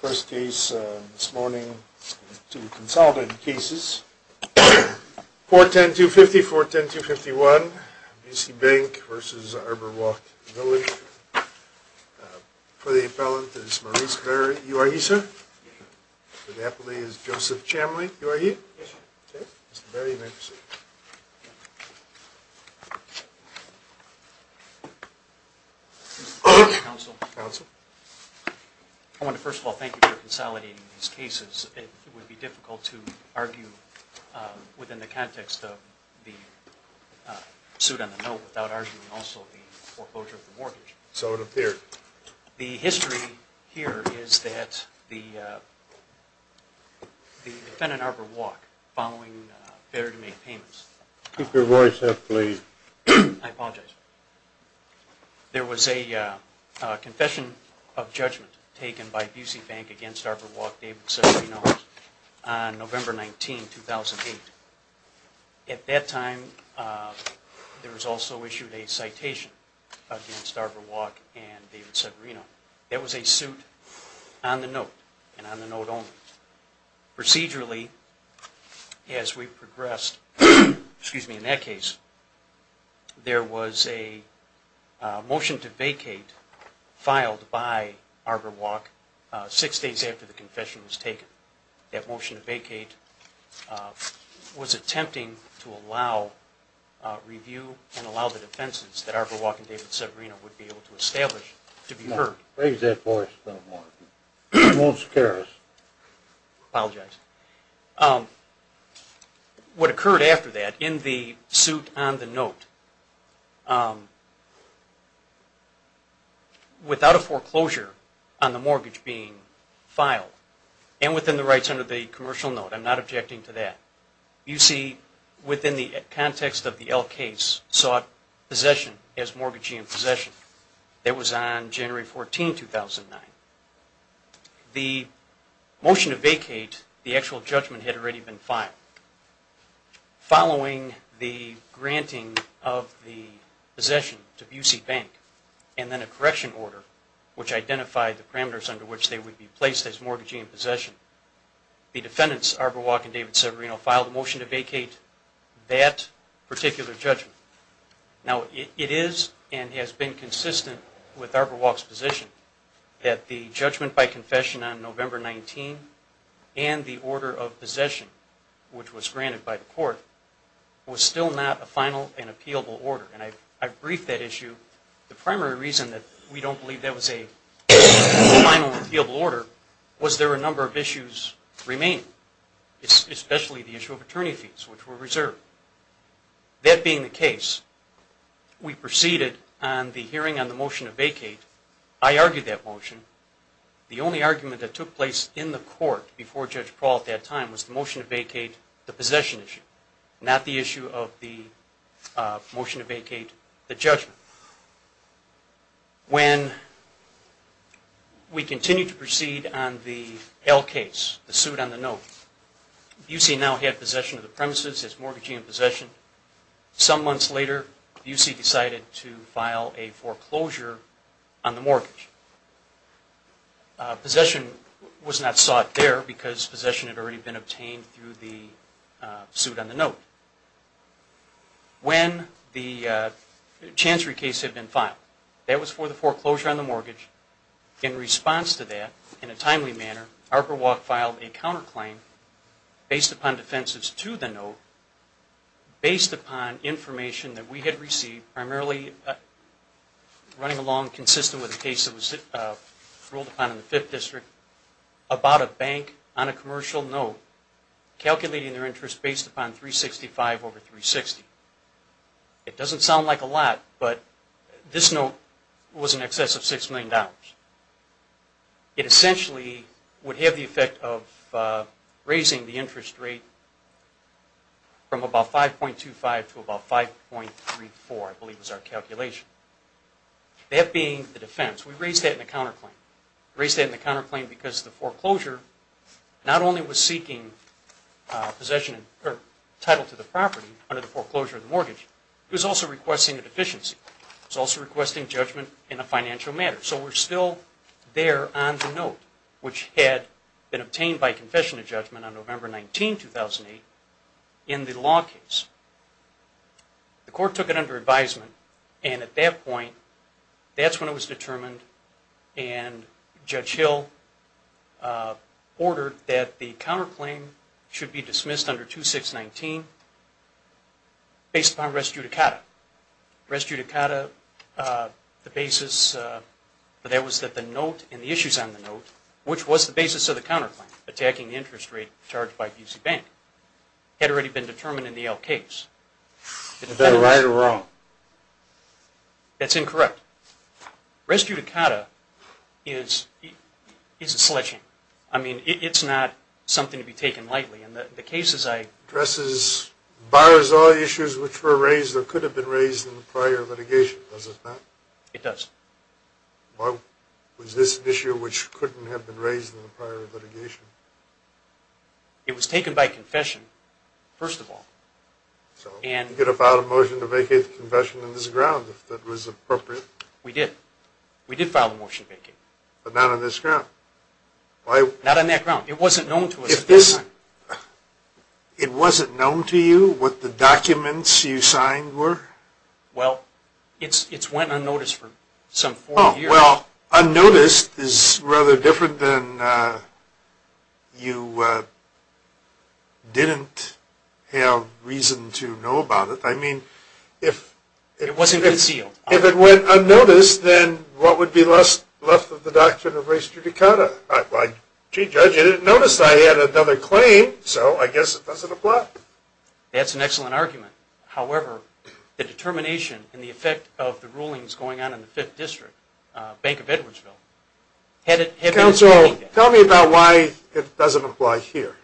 First case this morning, two consolidated cases, 410-250, 410-251, Busey Bank v. Arbour Walk Village. For the appellant is Maurice Berry. You are here, sir. For the appellant is Joseph Chamley. You are here? Yes, sir. Okay. Mr. Berry, you may proceed. Counsel. Counsel. I want to first of all thank you for consolidating these cases. It would be difficult to argue within the context of the suit on the note without arguing also the foreclosure of the mortgage. So it appears. The history here is that the defendant, Arbour Walk, following failure to make payments... Keep your voice up, please. I apologize. There was a confession of judgment taken by Busey Bank against Arbour Walk, David Sessions, on November 19, 2008. At that time, there was also issued a citation against Arbour Walk and David Sogrino. That was a suit on the note and on the note only. Procedurally, as we progressed, in that case, there was a motion to vacate filed by Arbour Walk six days after the confession was taken. That motion to vacate was attempting to allow review and allow the defenses that Arbour Walk and David Sogrino would be able to establish to be heard. Raise that voice a little more. It won't scare us. I apologize. What occurred after that in the suit on the note without a foreclosure on the mortgage being filed and within the rights under the commercial note, I'm not objecting to that, you see within the context of the L case sought possession as mortgagee in possession. That was on January 14, 2009. The motion to vacate, the actual judgment had already been filed. Following the granting of the possession to Busey Bank and then a correction order which identified the parameters under which they would be placed as mortgagee in possession, the defendants, Arbour Walk and David Sogrino, filed a motion to vacate that particular judgment. Now, it is and has been consistent with Arbour Walk's position that the judgment by confession on November 19 and the order of possession, which was granted by the court, was still not a final and appealable order. And I've briefed that issue. The primary reason that we don't believe that was a final appealable order was there were a number of issues remaining, especially the issue of attorney fees, which were reserved. That being the case, we proceeded on the hearing on the motion to vacate. I argued that motion. The only argument that took place in the court before Judge Paul at that time was the motion to vacate the possession issue, not the issue of the motion to vacate the judgment. When we continued to proceed on the L case, the suit on the note, Busey now had possession of the premises as mortgagee in possession. Some months later, Busey decided to file a foreclosure on the mortgage. Possession was not sought there because possession had already been obtained through the suit on the note. When the Chancery case had been filed, that was for the foreclosure on the mortgage. In response to that, in a timely manner, Arbour Walk filed a counterclaim based upon defensives to the note, based upon information that we had received, primarily running along consistent with the case that was ruled upon in the 5th District, about a bank on a commercial note calculating their interest based upon $360,000. It doesn't sound like a lot, but this note was in excess of $6 million. It essentially would have the effect of raising the interest rate from about $5.25 to about $5.34, I believe was our calculation. That being the defense, we raised that in a counterclaim. We raised that in a counterclaim because the foreclosure not only was seeking title to the property, but it was seeking possession of the property. It was also requesting a deficiency. It was also requesting judgment in a financial matter. So we're still there on the note, which had been obtained by confession of judgment on November 19, 2008, in the law case. The court took it under advisement, and at that point, that's when it was determined and Judge Hill ordered that the counterclaim should be dismissed under 2619. Based upon res judicata. Res judicata, the basis for that was that the note and the issues on the note, which was the basis of the counterclaim, attacking the interest rate charged by B.C. Bank, had already been determined in the L case. Is that right or wrong? That's incorrect. Res judicata is a sledgehammer. I mean, it's not something to be taken lightly. It addresses, bars all issues which were raised or could have been raised in the prior litigation, does it not? It does. Was this an issue which couldn't have been raised in the prior litigation? It was taken by confession, first of all. You could have filed a motion to vacate the confession on this ground if that was appropriate. We did. We did file a motion to vacate. But not on this ground. Not on that ground. It wasn't known to us at that time. It wasn't known to you what the documents you signed were? Well, it's went unnoticed for some four years. Well, unnoticed is rather different than you didn't have reason to know about it. It wasn't concealed. If it went unnoticed, then what would be left of the doctrine of res judicata? Gee, Judge, you didn't notice I had another claim, so I guess it doesn't apply. Well, that's an excellent argument. However, the determination and the effect of the rulings going on in the 5th District, Bank of Edwardsville, hadn't been explained. Counsel, tell me about why it doesn't apply here.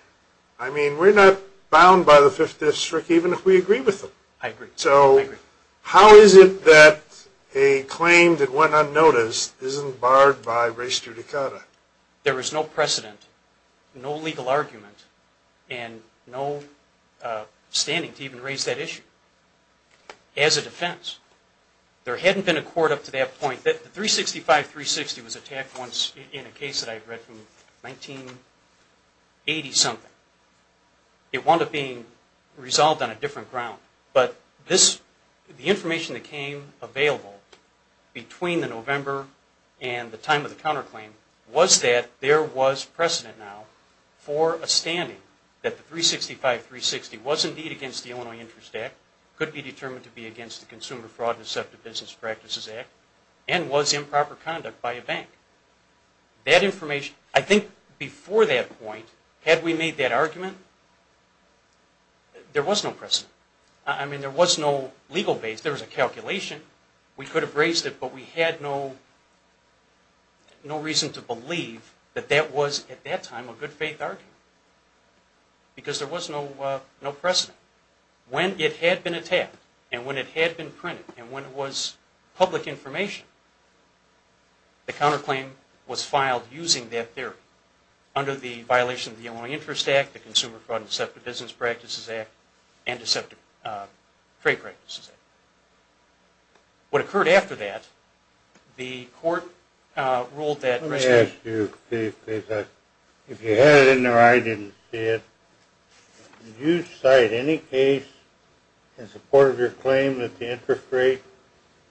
I mean, we're not bound by the 5th District even if we agree with them. I agree. I agree. So, how is it that a claim that went unnoticed isn't barred by res judicata? There was no precedent, no legal argument, and no standing to even raise that issue as a defense. There hadn't been a court up to that point. The 365-360 was attacked once in a case that I've read from 1980-something. It wound up being resolved on a different ground. But the information that came available between the November and the time of the counterclaim was that there was precedent now for a standing that the 365-360 was indeed against the Illinois Interest Act, could be determined to be against the Consumer Fraud and Deceptive Business Practices Act, and was improper conduct by a bank. I think before that point, had we made that argument, there was no precedent. I mean, there was no legal base. There was a calculation. We could have raised it, but we had no reason to believe that that was, at that time, a good-faith argument. Because there was no precedent. When it had been attacked, and when it had been printed, and when it was public information, the counterclaim was filed using that theory under the violation of the Illinois Interest Act, the Consumer Fraud and Deceptive Business Practices Act, and Deceptive Trade Practices Act. What occurred after that, the court ruled that- Let me ask you, please, if you had it in there or I didn't see it, did you cite any case in support of your claim that the interest rate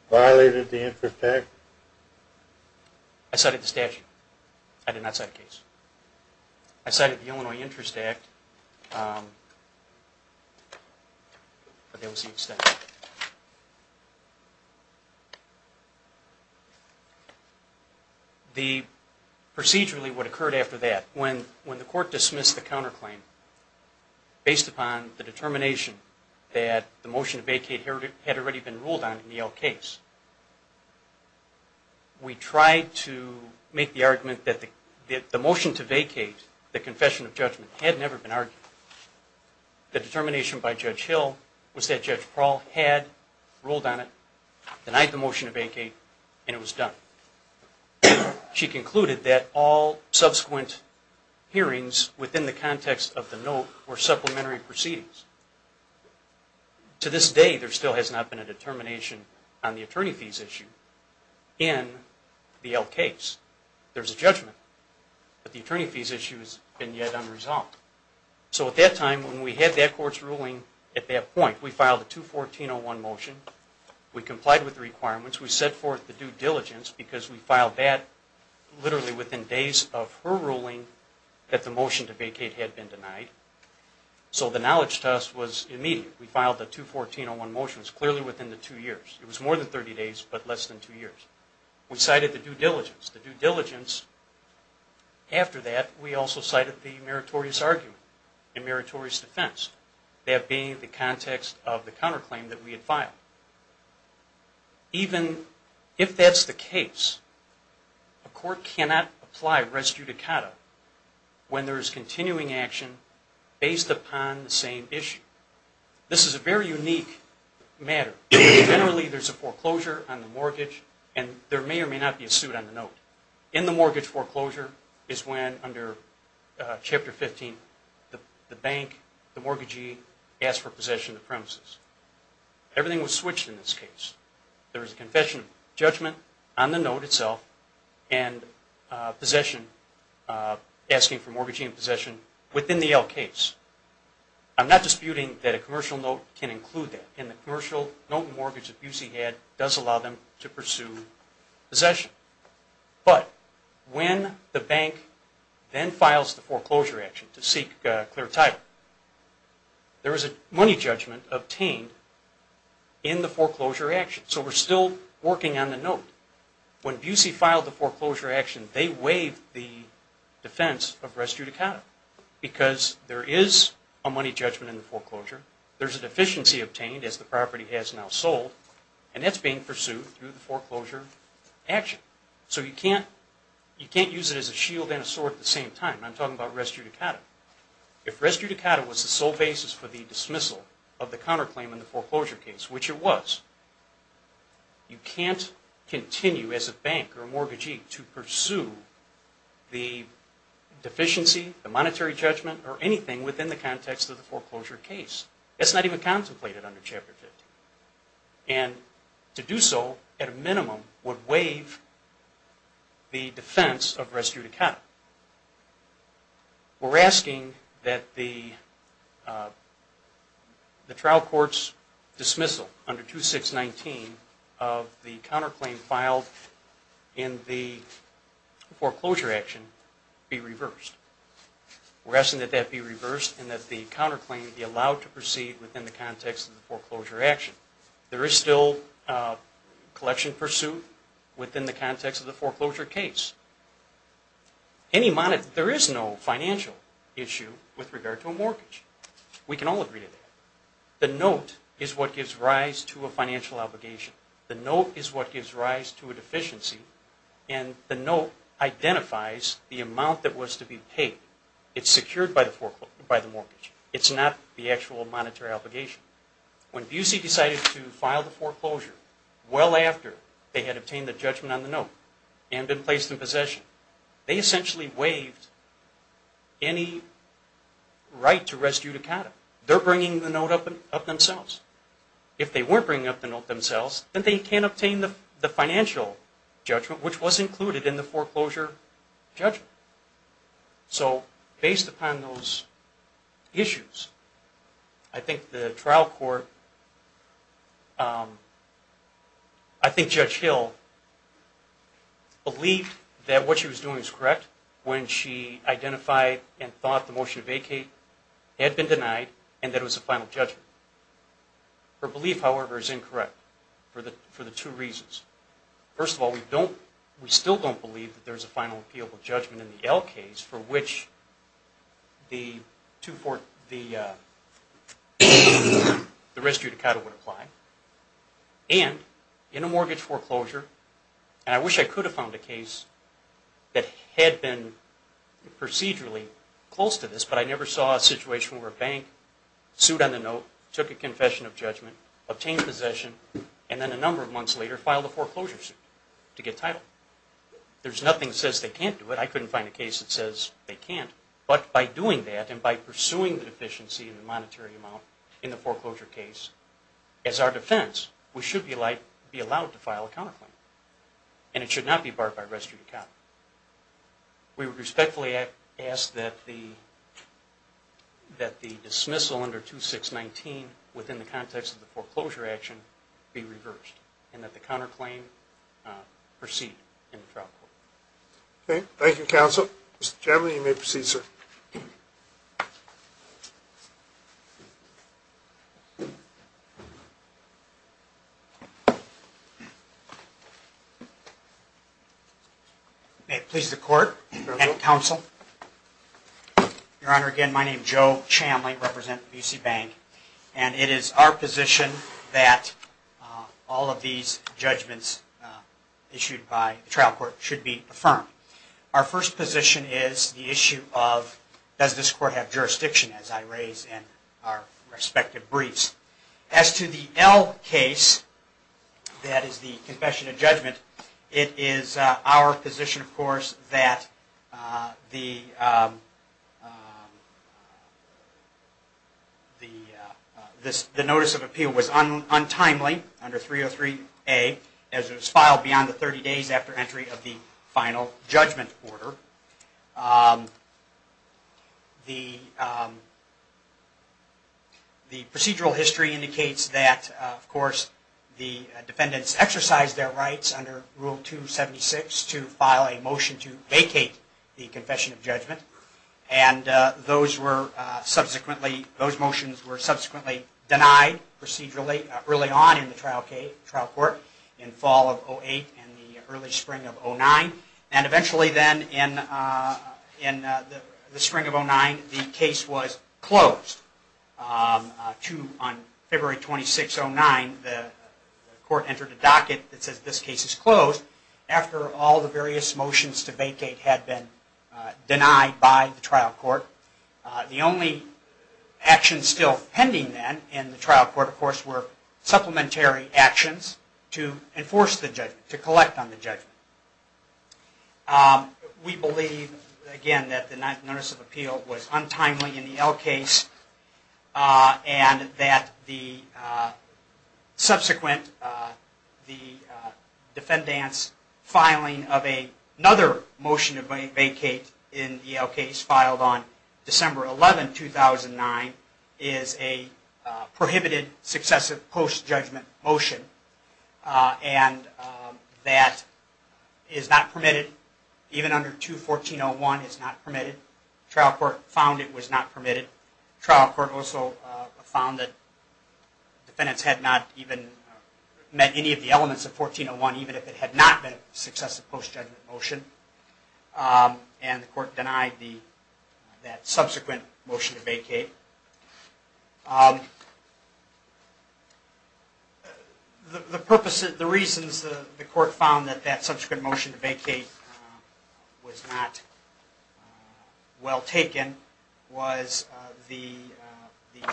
violated the interest tax? I cited the statute. I did not cite a case. I cited the Illinois Interest Act, but that was the extent. Procedurally, what occurred after that, when the court dismissed the counterclaim, based upon the determination that the motion to vacate had already been ruled on in the Elk case, we tried to make the argument that the motion to vacate, the confession of judgment, had never been argued. The determination by Judge Hill was that Judge Prowl had ruled on it, denied the motion to vacate, and it was done. She concluded that all subsequent hearings within the context of the note were supplementary proceedings. To this day, there still has not been a determination on the attorney fees issue in the Elk case. There's a judgment, but the attorney fees issue has been yet unresolved. So at that time, when we had that court's ruling at that point, we filed a 214-01 motion. We complied with the requirements. We set forth the due diligence because we filed that literally within days of her ruling that the motion to vacate had been denied. So the knowledge to us was immediate. We filed the 214-01 motions clearly within the two years. It was more than 30 days, but less than two years. We cited the due diligence. The due diligence, after that, we also cited the meritorious argument and meritorious defense, that being the context of the counterclaim that we had filed. Even if that's the case, a court cannot apply res judicata when there is continuing action based upon the same issue. This is a very unique matter. Generally, there's a foreclosure on the mortgage, and there may or may not be a suit on the note. In the mortgage foreclosure is when, under Chapter 15, the bank, the mortgagee, asks for possession of the premises. Everything was switched in this case. There was a confession judgment on the note itself, and asking for mortgaging and possession within the L case. I'm not disputing that a commercial note can include that, and the commercial note and mortgage that Busey had does allow them to pursue possession. But when the bank then files the foreclosure action to seek clear title, there is a money judgment obtained in the foreclosure action. So we're still working on the note. When Busey filed the foreclosure action, they waived the defense of res judicata because there is a money judgment in the foreclosure. There's a deficiency obtained, as the property has now sold, and that's being pursued through the foreclosure action. So you can't use it as a shield and a sword at the same time. I'm talking about res judicata. If res judicata was the sole basis for the dismissal of the counterclaim in the foreclosure case, which it was, you can't continue as a bank or a mortgagee to pursue the deficiency, the monetary judgment, or anything within the context of the foreclosure case. That's not even contemplated under Chapter 50. And to do so, at a minimum, would waive the defense of res judicata. We're asking that the trial court's dismissal under 2619 of the counterclaim filed in the foreclosure action be reversed. We're asking that that be reversed and that the counterclaim be allowed to proceed within the context of the foreclosure action. There is still collection pursued within the context of the foreclosure case. There is no financial issue with regard to a mortgage. We can all agree to that. The note is what gives rise to a financial obligation. The note is what gives rise to a deficiency, and the note identifies the amount that was to be paid. It's secured by the mortgage. It's not the actual monetary obligation. When Busey decided to file the foreclosure, well after they had obtained the judgment on the note and been placed in possession, they essentially waived any right to res judicata. They're bringing the note up themselves. If they weren't bringing up the note themselves, then they can't obtain the financial judgment, which was included in the foreclosure judgment. So based upon those issues, I think the trial court, I think Judge Hill believed that what she was doing was correct when she identified and thought the motion to vacate had been denied and that it was a final judgment. Her belief, however, is incorrect for the two reasons. First of all, we still don't believe that there's a final appealable judgment in the L case for which the res judicata would apply. And in a mortgage foreclosure, and I wish I could have found a case that had been procedurally close to this, but I never saw a situation where a bank sued on the note, took a confession of judgment, obtained possession, and then a number of months later filed a foreclosure suit to get title. There's nothing that says they can't do it. I couldn't find a case that says they can't, but by doing that and by pursuing the deficiency in the monetary amount in the foreclosure case as our defense, we should be allowed to file a counterclaim and it should not be barred by res judicata. We would respectfully ask that the dismissal under 2619 within the context of the foreclosure action be reversed and that the counterclaim proceed in the trial court. Thank you, counsel. Mr. Chamley, you may proceed, sir. May it please the court and counsel. Your Honor, again, my name is Joe Chamley. I represent the B.C. Bank and it is our position that all of these judgments issued by the trial court should be affirmed. Our first position is the issue of does this court have jurisdiction, as I raised in our respective briefs. As to the L case, that is the confession of judgment, but it is our position, of course, that the notice of appeal was untimely under 303A as it was filed beyond the 30 days after entry of the final judgment order. The procedural history indicates that, of course, the defendants exercised their rights under Rule 276 to file a motion to vacate the confession of judgment. And those motions were subsequently denied procedurally early on in the trial court in fall of 2008 and the early spring of 2009. And eventually then in the spring of 2009, the case was closed. On February 26, 2009, the court entered a docket that says this case is closed after all the various motions to vacate had been denied by the trial court. The only actions still pending then in the trial court, of course, were supplementary actions to enforce the judgment, to collect on the judgment. We believe, again, that the notice of appeal was untimely in the L case and that the subsequent defendants filing of another motion to vacate in the L case filed on December 11, 2009, is a prohibited successive post-judgment motion. And that is not permitted. Even under 2.1401, it's not permitted. The trial court found it was not permitted. The trial court also found that defendants had not even met any of the elements of 2.1401 even if it had not been a successive post-judgment motion. And the court denied that subsequent motion to vacate. The purposes, the reasons the court found that that subsequent motion to vacate was not well taken was the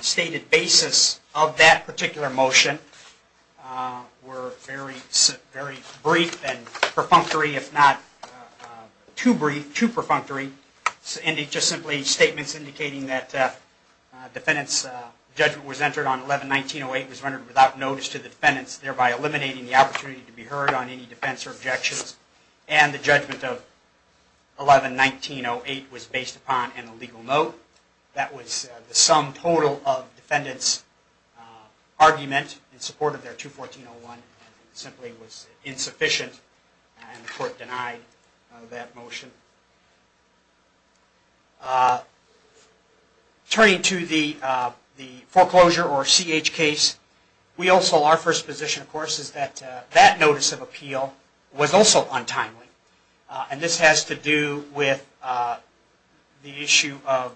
stated basis of that particular motion were very brief and perfunctory, if not too brief, too perfunctory, just simply statements indicating that defendants' judgment was entered on 11-19-08 was rendered without notice to the defendants, thereby eliminating the opportunity to be heard on any defense or objections, and the judgment of 11-19-08 was based upon an illegal note. That was the sum total of defendants' argument in support of their 2.1401 and it simply was insufficient and the court denied that motion. Turning to the foreclosure or CH case, our first position, of course, is that that notice of appeal was also untimely. And this has to do with the issue of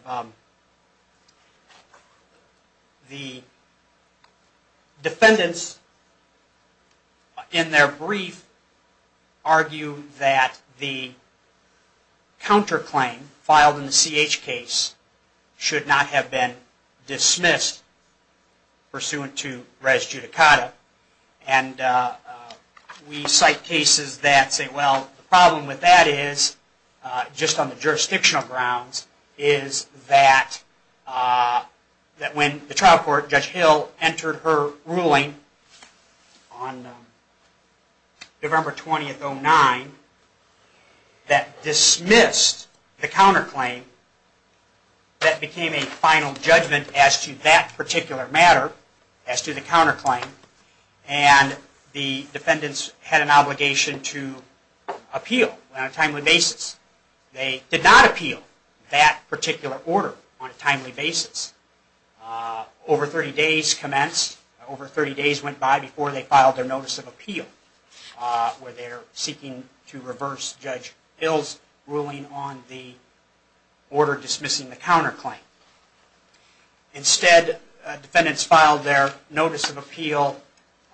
the defendants in their brief argue that the counterclaim filed in the CH case should not have been dismissed pursuant to res judicata. And we cite cases that say, well, the problem with that is, just on the jurisdictional grounds, is that when the trial court, Judge Hill, entered her ruling on November 20-09 that dismissed the counterclaim, that became a final judgment as to that particular matter, as to the counterclaim, and the defendants had an obligation to appeal on a timely basis. They did not appeal that particular order on a timely basis. Over 30 days commenced, over 30 days went by before they filed their notice of appeal where they're seeking to reverse Judge Hill's ruling on the order dismissing the counterclaim. Instead, defendants filed their notice of appeal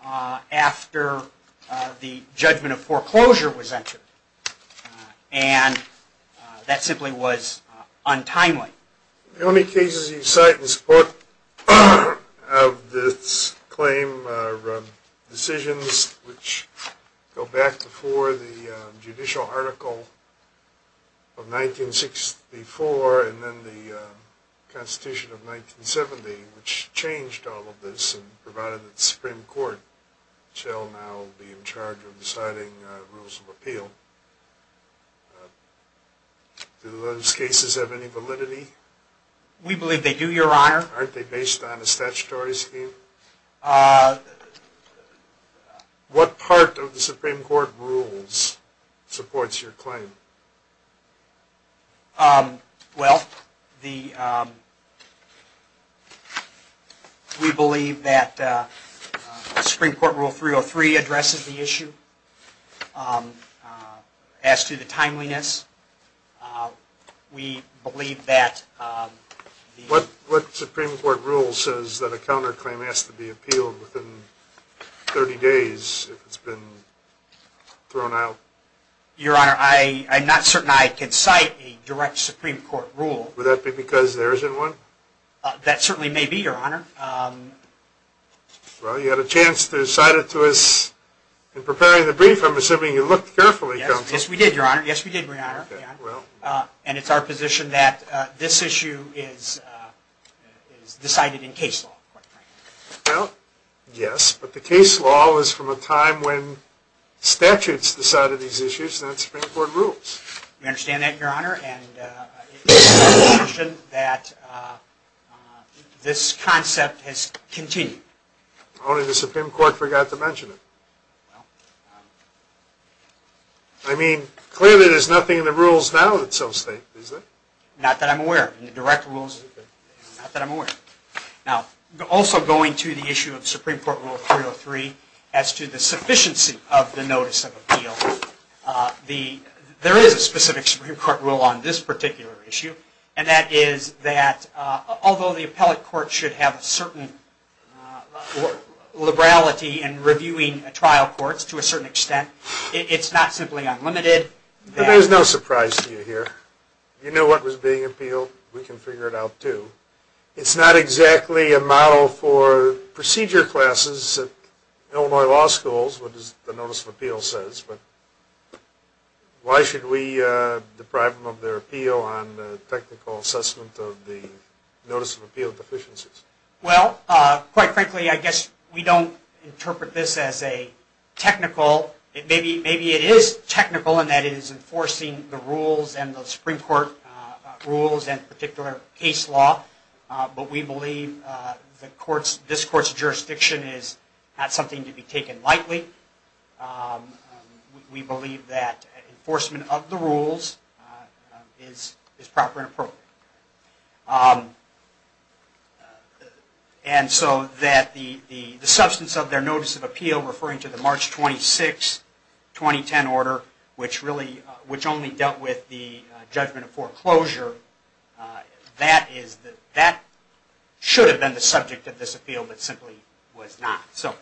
after the judgment of foreclosure was entered and that simply was untimely. The only cases you cite in support of this claim are decisions which go back before the judicial article of 1964 and then the Constitution of 1970, which changed all of this and provided the Supreme Court, which shall now be in charge of deciding rules of appeal. Do those cases have any validity? We believe they do, Your Honor. Aren't they based on a statutory scheme? What part of the Supreme Court rules supports your claim? Well, we believe that Supreme Court Rule 303 addresses the issue. As to the timeliness, we believe that... What Supreme Court rule says that a counterclaim has to be appealed within 30 days if it's been thrown out? Your Honor, I'm not certain I can cite a direct Supreme Court rule. Would that be because there isn't one? That certainly may be, Your Honor. Well, you had a chance to cite it to us in preparing the brief. I'm assuming you looked carefully, Counsel. Yes, we did, Your Honor. Yes, we did, Your Honor. And it's our position that this issue is decided in case law. Well, yes, but the case law is from a time when statutes decided these issues, not Supreme Court rules. We understand that, Your Honor, and it's our position that this concept has continued. Only the Supreme Court forgot to mention it. I mean, clearly there's nothing in the rules now that so state, is there? Not that I'm aware of. In the direct rules, not that I'm aware of. Now, also going to the issue of Supreme Court Rule 303 as to the sufficiency of the notice of appeal, there is a specific Supreme Court rule on this particular issue, and that is that although the appellate court should have a certain liberality in reviewing trial courts to a certain extent, it's not simply unlimited. There's no surprise to you here. You know what was being appealed. We can figure it out, too. It's not exactly a model for procedure classes at Illinois law schools, what the notice of appeal says, but why should we deprive them of their appeal on the technical assessment of the notice of appeal deficiencies? Well, quite frankly, I guess we don't interpret this as a technical, maybe it is technical in that it is enforcing the rules and the Supreme Court rules and particular case law, but we believe this court's jurisdiction is not something to be taken lightly. We believe that enforcement of the rules is proper and appropriate. And so that the substance of their notice of appeal referring to the March 26, 2010 order, which only dealt with the judgment of foreclosure, that should have been the subject of this appeal, but simply was not. So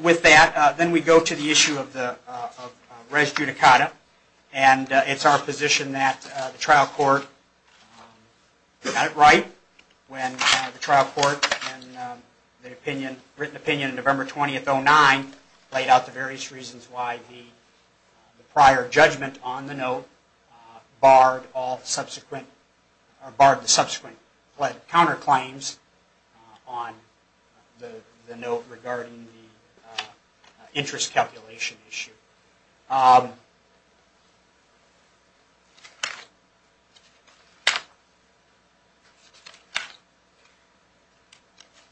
with that, then we go to the issue of res judicata, and it's our position that the trial court got it right when the trial court, in the written opinion of November 20, 2009, laid out the various reasons why the prior judgment on the note barred the subsequent counterclaims on the note regarding the interest calculation issue.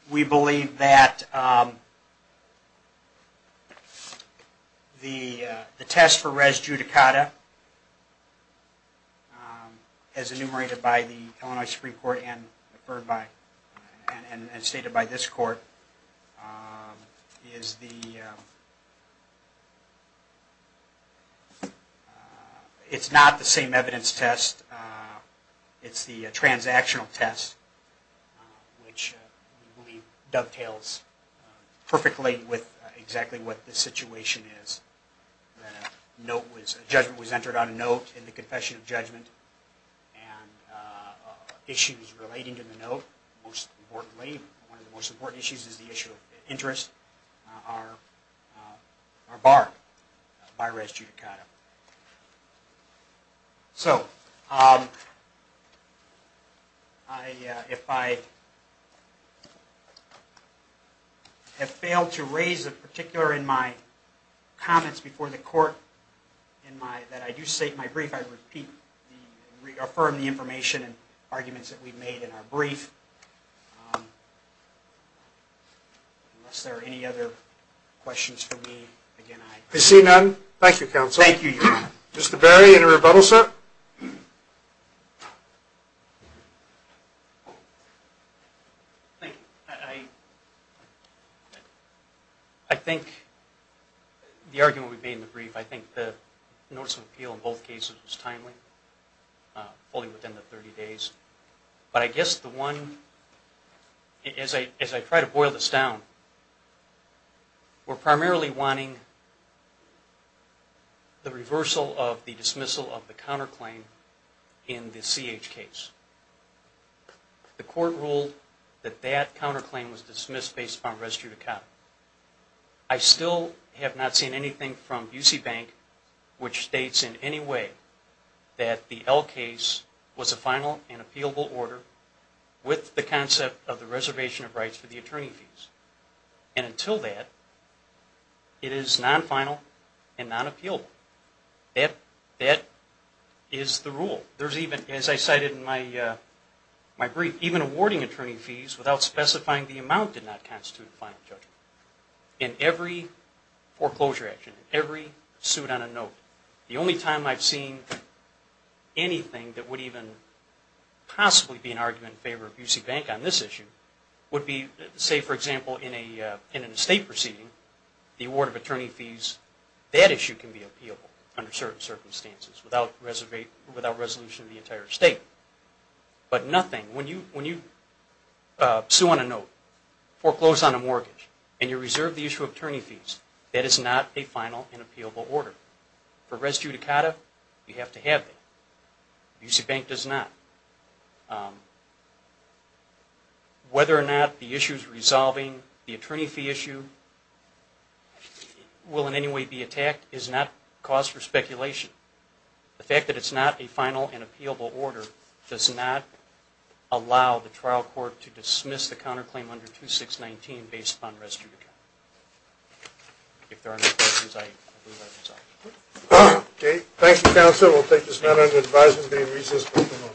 We believe that the test for res judicata, as enumerated by the Illinois Supreme Court and stated by this court, is the, it's not the same evidence test, it's the transactional test, which we believe dovetails perfectly with exactly what the situation is. That a note was, a judgment was entered on a note in the confession of judgment, and issues relating to the note, most importantly, one of the most important issues is the issue of interest, are barred by res judicata. So, if I have failed to raise a particular in my comments before the court, in my, that I do state in my brief, I repeat, reaffirm the information and arguments that we've made in our brief. Unless there are any other questions for me, again, I... I see none. Thank you, Counsel. Thank you, Your Honor. Mr. Berry, any rebuttal, sir? Thank you. I, I think the argument we've made in the brief, I think the notice of appeal in both cases was timely, fully within the 30 days, but I guess the one, as I, as I try to boil this down, we're primarily wanting the reversal of the dismissal of the counterclaim in the CH case. The court ruled that that counterclaim was dismissed based upon res judicata. I still have not seen anything from UC Bank which states in any way that the L case was a final and appealable order with the concept of the reservation of rights for the attorney fees. And until that, it is non-final and non-appealable. That, that is the rule. There's even, as I cited in my, my brief, even awarding attorney fees without specifying the amount did not constitute a final judgment. In every foreclosure action, every suit on a note, the only time I've seen anything that would even possibly be an argument in favor of UC Bank on this issue would be, say, for example, in a, in an estate proceeding, the award of attorney fees, that issue can be appealable under certain circumstances without reservation of the entire estate. But nothing, when you, when you sue on a note, foreclose on a mortgage, and you reserve the issue of attorney fees, that is not a final and appealable order. For res judicata, you have to have it. UC Bank does not. Whether or not the issue's resolving, the attorney fee issue will in any way be attacked is not cause for speculation. The fact that it's not a final and appealable order does not allow the trial court to dismiss the counterclaim under 2619 based upon res judicata. If there are no questions, I approve that result. Okay, thank you, counsel. We'll take this matter into advisement. We'll be in recess until tomorrow.